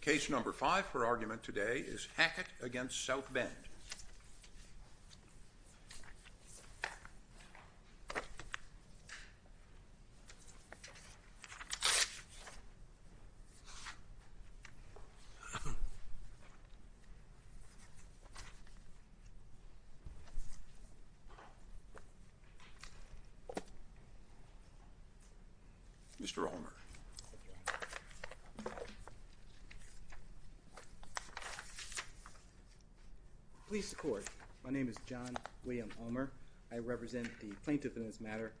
Case number five for argument today is Hackett v. South Bend. Mr. Romer. Please record. My name is John William Romer. I represent the plaintiff in this matter,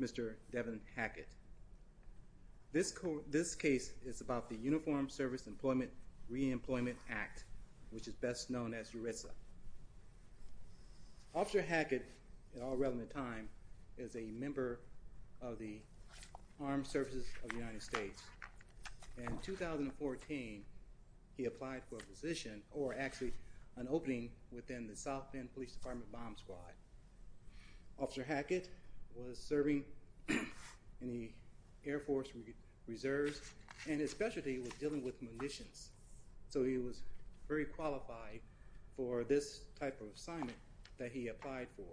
Mr. Devin Hackett. This case is about the Uniformed Service Employment Reemployment Act, which is best known as ERISA. Officer Hackett, at all relevant time, is a member of the Armed Services of the United States. In 2014, he applied for a position, or actually an opening, within the South Bend Police Department Bomb Squad. Officer Hackett was serving in the Air Force Reserves, and his specialty was dealing with munitions. So he was very qualified for this type of assignment that he applied for.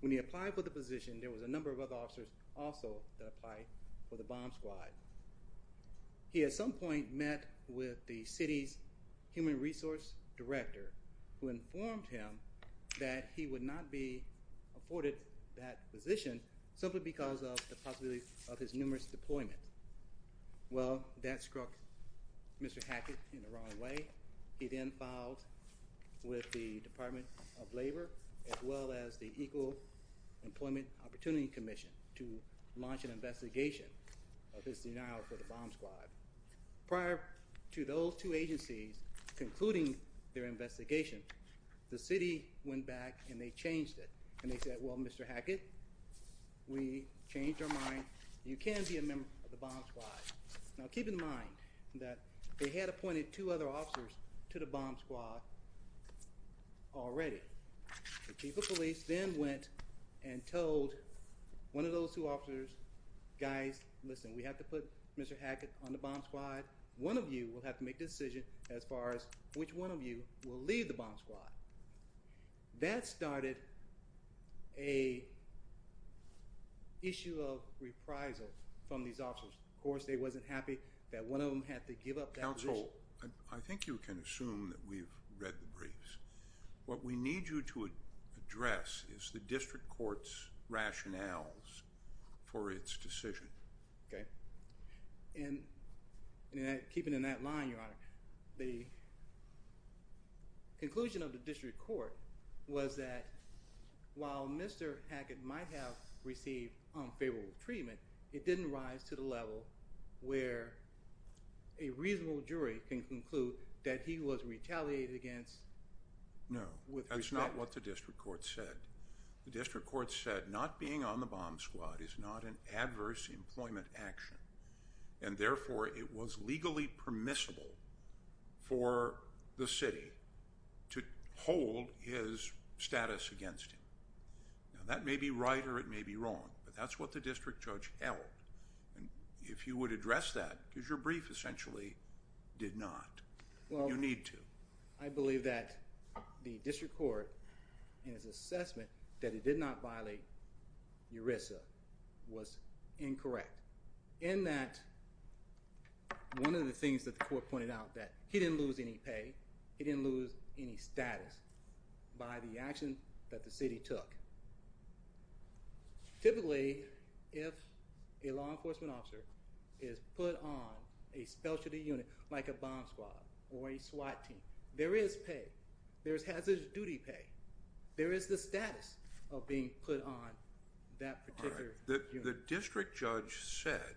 When he applied for the position, there was a number of other officers also that applied for the bomb squad. He at some point met with the city's human resource director, who informed him that he would not be afforded that position simply because of the possibility of his numerous deployments. Well, that struck Mr. Hackett in the wrong way. He then filed with the Department of Labor as well as the Equal Employment Opportunity Commission to launch an investigation of his denial for the bomb squad. Prior to those two agencies concluding their investigation, the city went back and they changed it. And they said, well, Mr. Hackett, we changed our mind. You can be a member of the bomb squad. Now, keep in mind that they had appointed two other officers to the bomb squad already. The Chief of Police then went and told one of those two officers, guys, listen, we have to put Mr. Hackett on the bomb squad. One of you will have to make the decision as far as which one of you will leave the bomb squad. That started an issue of reprisal from these officers. Of course, they wasn't happy that one of them had to give up that position. Counsel, I think you can assume that we've read the briefs. What we need you to address is the district court's rationales for its decision. Okay. And keeping in that line, Your Honor, the conclusion of the district court was that while Mr. Hackett might have received unfavorable treatment, it didn't rise to the level where a reasonable jury can conclude that he was retaliated against with respect. No, that's not what the district court said. The district court said not being on the bomb squad is not an adverse employment action, and therefore it was legally permissible for the city to hold his status against him. Now, that may be right or it may be wrong, but that's what the district judge held. If you would address that, because your brief essentially did not. You need to. I believe that the district court in its assessment that it did not violate ERISA was incorrect, in that one of the things that the court pointed out that he didn't lose any pay, he didn't lose any status by the action that the city took. Typically, if a law enforcement officer is put on a specialty unit like a bomb squad or a SWAT team, there is pay. There is hazardous duty pay. There is the status of being put on that particular unit. The district judge said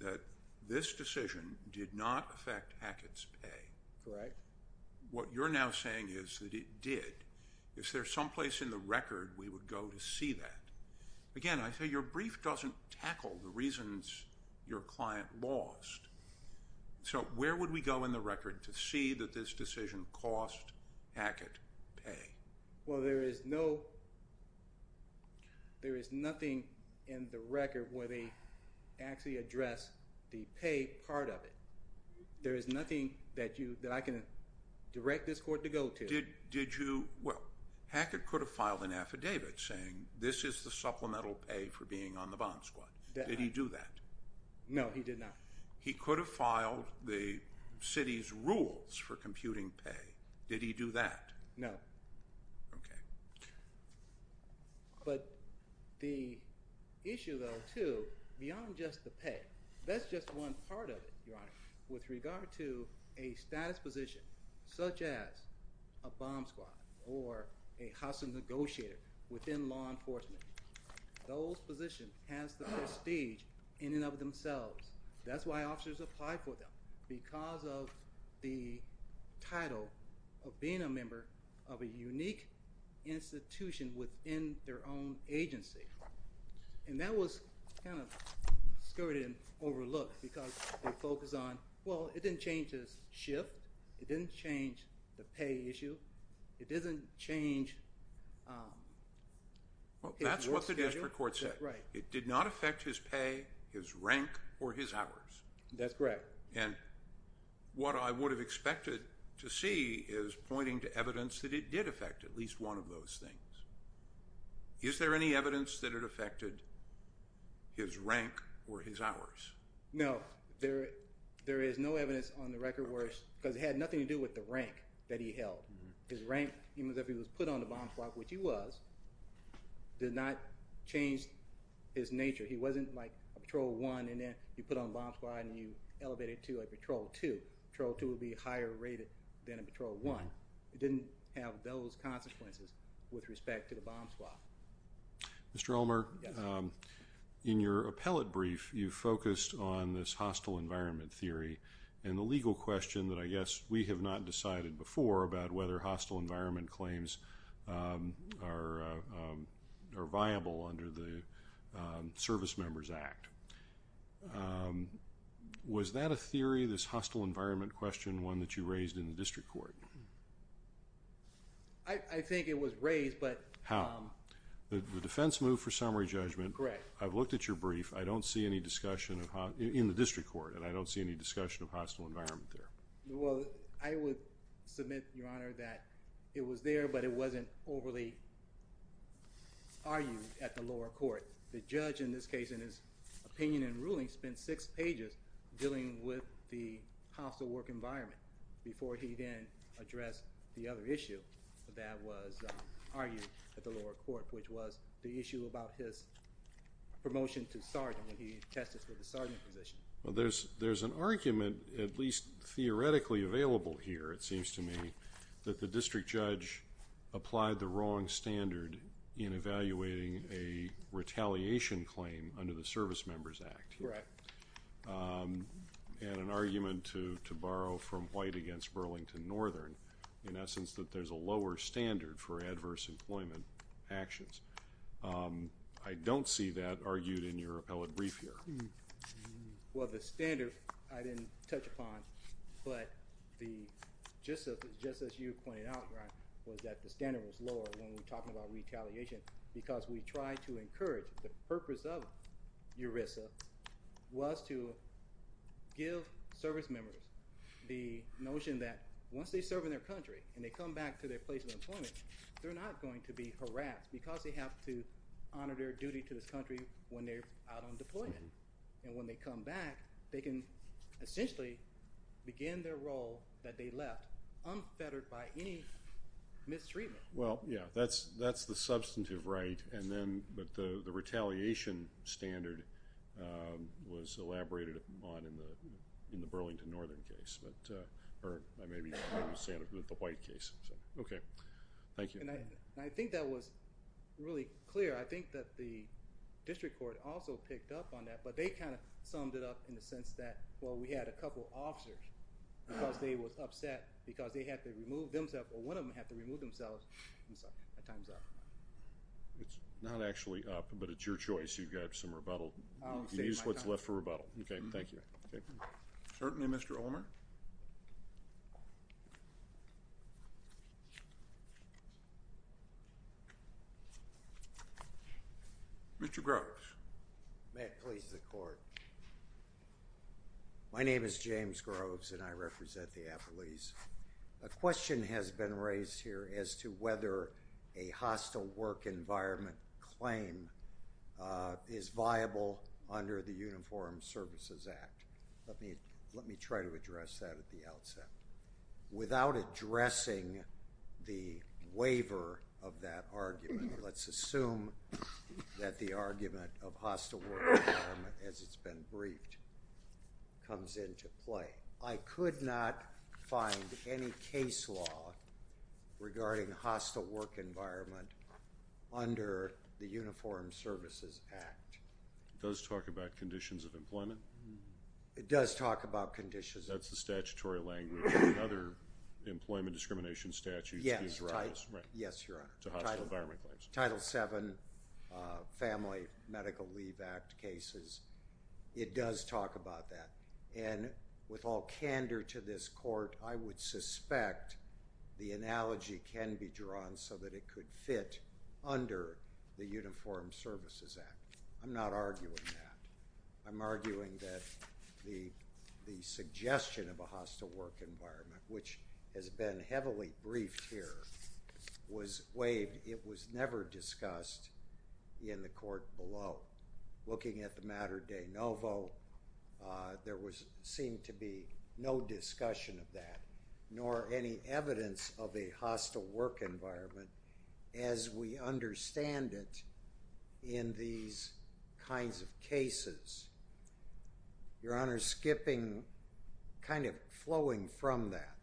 that this decision did not affect Hackett's pay. Correct. What you're now saying is that it did. Is there someplace in the record we would go to see that? Again, I say your brief doesn't tackle the reasons your client lost, so where would we go in the record to see that this decision cost Hackett pay? Well, there is nothing in the record where they actually address the pay part of it. There is nothing that I can direct this court to go to. Did you—well, Hackett could have filed an affidavit saying this is the supplemental pay for being on the bomb squad. Did he do that? No, he did not. He could have filed the city's rules for computing pay. Did he do that? No. Okay. But the issue, though, too, beyond just the pay, that's just one part of it, Your Honor, with regard to a status position such as a bomb squad or a hostile negotiator within law enforcement. Those positions has the prestige in and of themselves. That's why officers apply for them, because of the title of being a member of a unique institution within their own agency. And that was kind of skirted and overlooked because they focus on, well, it didn't change his shift. It didn't change the pay issue. It didn't change his work schedule. Well, that's what the district court said. Right. It did not affect his pay, his rank, or his hours. That's correct. And what I would have expected to see is pointing to evidence that it did affect at least one of those things. Is there any evidence that it affected his rank or his hours? No. There is no evidence on the record where it's—because it had nothing to do with the rank that he held. His rank, even if he was put on the bomb squad, which he was, did not change his nature. He wasn't like a patrol one and then you put on the bomb squad and you elevated to a patrol two. Patrol two would be higher rated than a patrol one. It didn't have those consequences with respect to the bomb squad. Mr. Ulmer, in your appellate brief, you focused on this hostile environment theory and the legal question that I guess we have not decided before about whether hostile environment claims are viable under the Service Members Act. Was that a theory, this hostile environment question, one that you raised in the district court? I think it was raised, but— How? The defense moved for summary judgment. Correct. I've looked at your brief. I don't see any discussion in the district court, and I don't see any discussion of hostile environment there. Well, I would submit, Your Honor, that it was there, but it wasn't overly argued at the lower court. The judge in this case, in his opinion and ruling, spent six pages dealing with the hostile work environment before he then addressed the other issue that was argued at the lower court, which was the issue about his promotion to sergeant when he tested for the sergeant position. Well, there's an argument, at least theoretically available here, it seems to me, that the district judge applied the wrong standard in evaluating a retaliation claim under the Service Members Act. Correct. And an argument to borrow from White against Burlington Northern, in essence, that there's a lower standard for adverse employment actions. I don't see that argued in your appellate brief here. Well, the standard I didn't touch upon, but just as you pointed out, Ron, was that the standard was lower when we're talking about retaliation because we tried to encourage the purpose of ERISA was to give service members the notion that once they serve in their country and they come back to their place of employment, they're not going to be harassed because they have to honor their duty to this country when they're out on deployment. And when they come back, they can essentially begin their role that they left unfettered by any mistreatment. Well, yeah, that's the substantive right. But the retaliation standard was elaborated upon in the Burlington Northern case, or maybe the White case. Okay, thank you. And I think that was really clear. I think that the district court also picked up on that, but they kind of summed it up in the sense that, well, we had a couple officers because they were upset because they had to remove themselves, or one of them had to remove themselves. I'm sorry, my time's up. It's not actually up, but it's your choice. You've got some rebuttal. I'll save my time. Use what's left for rebuttal. Okay, thank you. Certainly, Mr. Ulmer. Mr. Groves. May it please the court. My name is James Groves, and I represent the appellees. A question has been raised here as to whether a hostile work environment claim is viable under the Uniform Services Act. Let me try to address that at the outset. Without addressing the waiver of that argument, let's assume that the argument of hostile work environment, as it's been briefed, comes into play. I could not find any case law regarding hostile work environment under the Uniform Services Act. It does talk about conditions of employment? It does talk about conditions of employment. That's the statutory language in other employment discrimination statutes. Yes, your Honor. Title VII, Family Medical Leave Act cases. It does talk about that. And with all candor to this court, I would suspect the analogy can be drawn so that it could fit under the Uniform Services Act. I'm not arguing that. I'm arguing that the suggestion of a hostile work environment, which has been heavily briefed here, was waived. It was never discussed in the court below. Looking at the matter de novo, there seemed to be no discussion of that, nor any evidence of a hostile work environment, as we understand it in these kinds of cases. Your Honor, skipping, kind of flowing from that,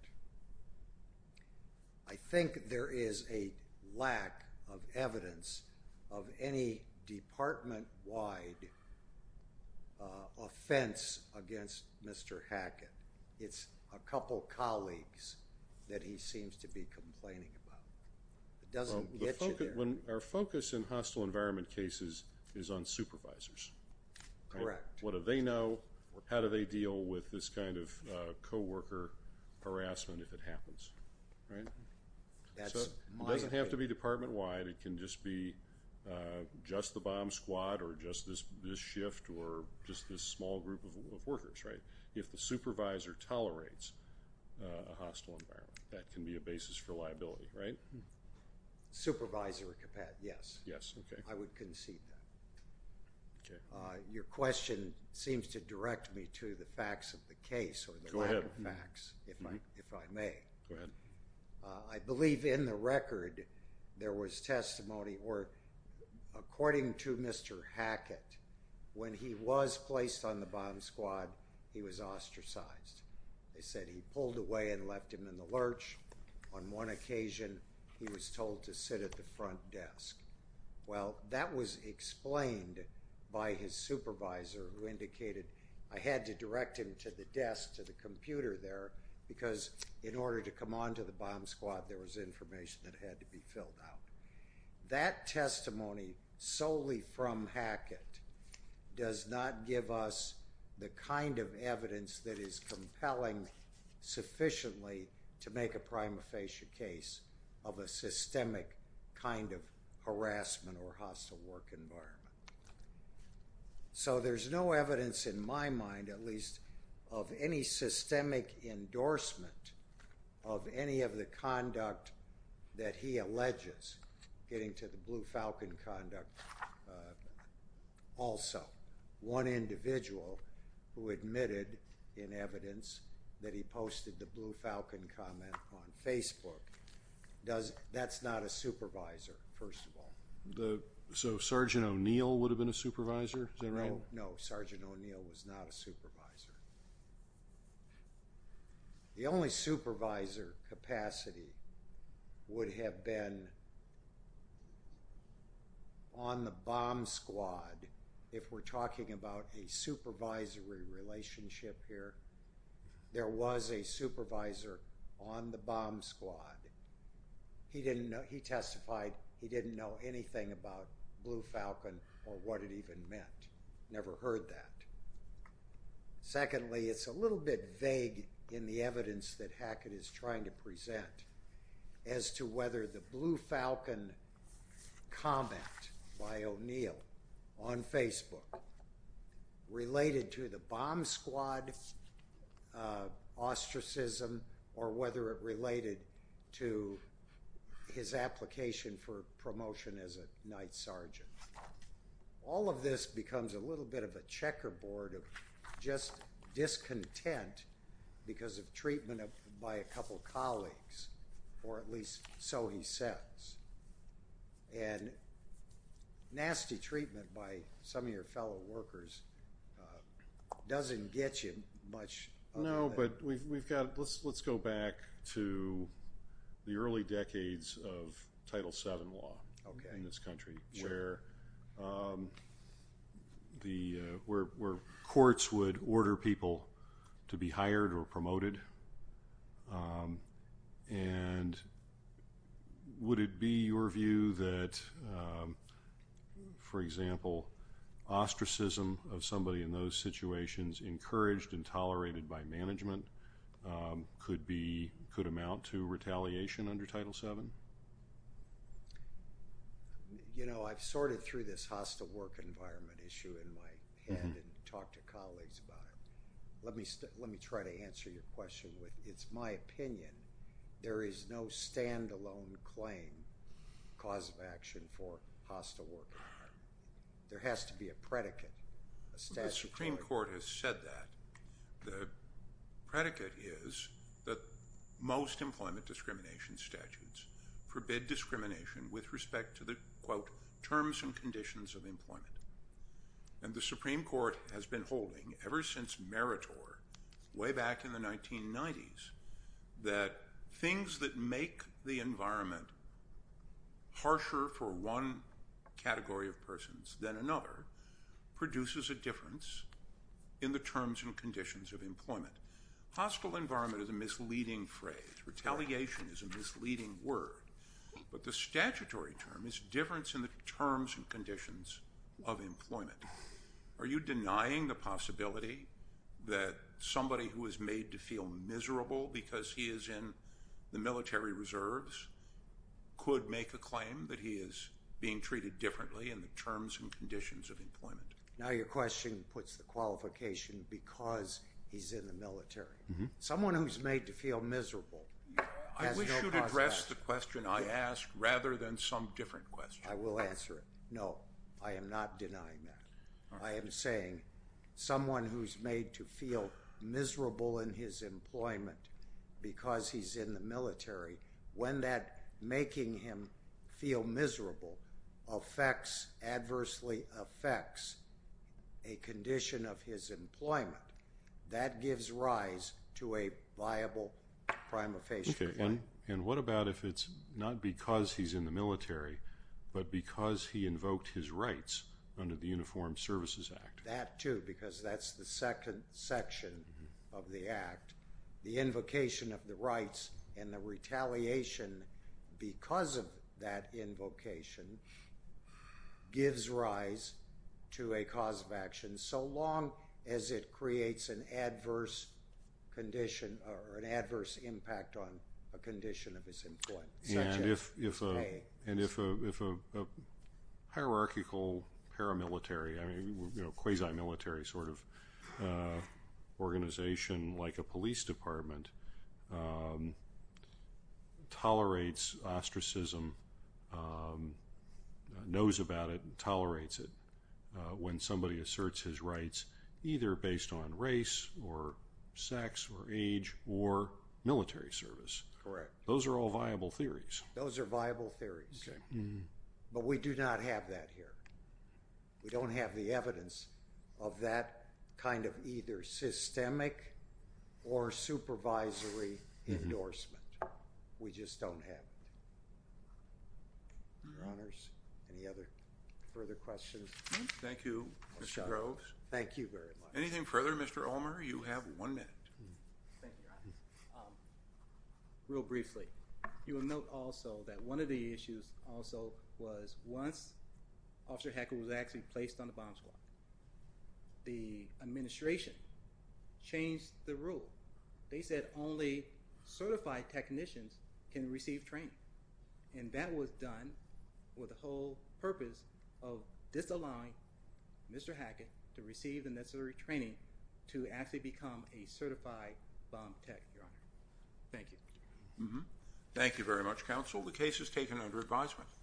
I think there is a lack of evidence of any department-wide offense against Mr. Hackett. It's a couple colleagues that he seems to be complaining about. It doesn't get you there. Our focus in hostile environment cases is on supervisors. Correct. What do they know? How do they deal with this kind of co-worker harassment if it happens? Right? That's my opinion. It doesn't have to be department-wide. It can just be just the bomb squad or just this shift or just this small group of workers, right? If the supervisor tolerates a hostile environment, that can be a basis for liability, right? Supervisor Capet, yes. Yes. Okay. I would concede that. Okay. Your question seems to direct me to the facts of the case or the lack of facts, if I may. Go ahead. I believe in the record there was testimony where, according to Mr. Hackett, when he was placed on the bomb squad, he was ostracized. They said he pulled away and left him in the lurch. On one occasion, he was told to sit at the front desk. Well, that was explained by his supervisor who indicated I had to direct him to the desk, to the computer there, because in order to come onto the bomb squad, there was information that had to be filled out. That testimony solely from Hackett does not give us the kind of evidence that is compelling sufficiently to make a prima facie case of a systemic kind of harassment or hostile work environment. So there's no evidence in my mind, at least, of any systemic endorsement of any of the conduct that he alleges, getting to the Blue Falcon conduct also. One individual who admitted in evidence that he posted the Blue Falcon comment on Facebook. That's not a supervisor, first of all. So Sergeant O'Neill would have been a supervisor? Is that right? No, Sergeant O'Neill was not a supervisor. The only supervisor capacity would have been on the bomb squad. If we're talking about a supervisory relationship here, there was a supervisor on the bomb squad. He testified he didn't know anything about Blue Falcon or what it even meant. Never heard that. Secondly, it's a little bit vague in the evidence that Hackett is trying to present as to whether the Blue Falcon comment by O'Neill on Facebook related to the bomb squad ostracism or whether it related to his application for promotion as a night sergeant. All of this becomes a little bit of a checkerboard of just discontent because of treatment by a couple colleagues, or at least so he says. And nasty treatment by some of your fellow workers doesn't get you much. No, but let's go back to the early decades of Title VII law in this country where courts would order people to be hired or promoted. And would it be your view that, for example, ostracism of somebody in those situations, encouraged and tolerated by management, could amount to retaliation under Title VII? I've sorted through this hostile work environment issue in my head and talked to colleagues about it. Let me try to answer your question. It's my opinion there is no stand-alone claim cause of action for hostile work. There has to be a predicate. The Supreme Court has said that. The predicate is that most employment discrimination statutes forbid discrimination with respect to the, quote, terms and conditions of employment. And the Supreme Court has been holding ever since meritor, way back in the 1990s, that things that make the environment harsher for one category of persons than another produces a difference in the terms and conditions of employment. Hostile environment is a misleading phrase. Retaliation is a misleading word. But the statutory term is difference in the terms and conditions of employment. Are you denying the possibility that somebody who is made to feel miserable because he is in the military reserves could make a claim that he is being treated differently in the terms and conditions of employment? Now your question puts the qualification because he's in the military. Someone who is made to feel miserable has no cause for that. I wish you would address the question I asked rather than some different question. I will answer it. No, I am not denying that. I am saying someone who is made to feel miserable in his employment because he's in the military, when that making him feel miserable affects, adversely affects a condition of his employment, that gives rise to a viable prima facie claim. And what about if it's not because he's in the military but because he invoked his rights under the Uniformed Services Act? That too, because that's the second section of the Act. The invocation of the rights and the retaliation because of that invocation gives rise to a cause of action so long as it creates an adverse condition or an adverse impact on a condition of his employment. And if a hierarchical paramilitary, quasi-military sort of organization like a police department tolerates ostracism, knows about it and tolerates it when somebody asserts his rights either based on race or sex or age or military service. Correct. Those are all viable theories. Those are viable theories. Okay. But we do not have that here. We don't have the evidence of that kind of either systemic or supervisory endorsement. We just don't have it. Your Honors, any other further questions? Thank you, Mr. Groves. Thank you very much. Anything further, Mr. Ulmer? You have one minute. Thank you, Your Honors. Real briefly, you will note also that one of the issues also was once Officer Hackett was actually placed on the bomb squad, the administration changed the rule. They said only certified technicians can receive training. And that was done with the whole purpose of disallowing Mr. Hackett to receive the necessary training to actually become a certified bomb tech, Your Honor. Thank you. Thank you very much, Counsel. The case is taken under advisement.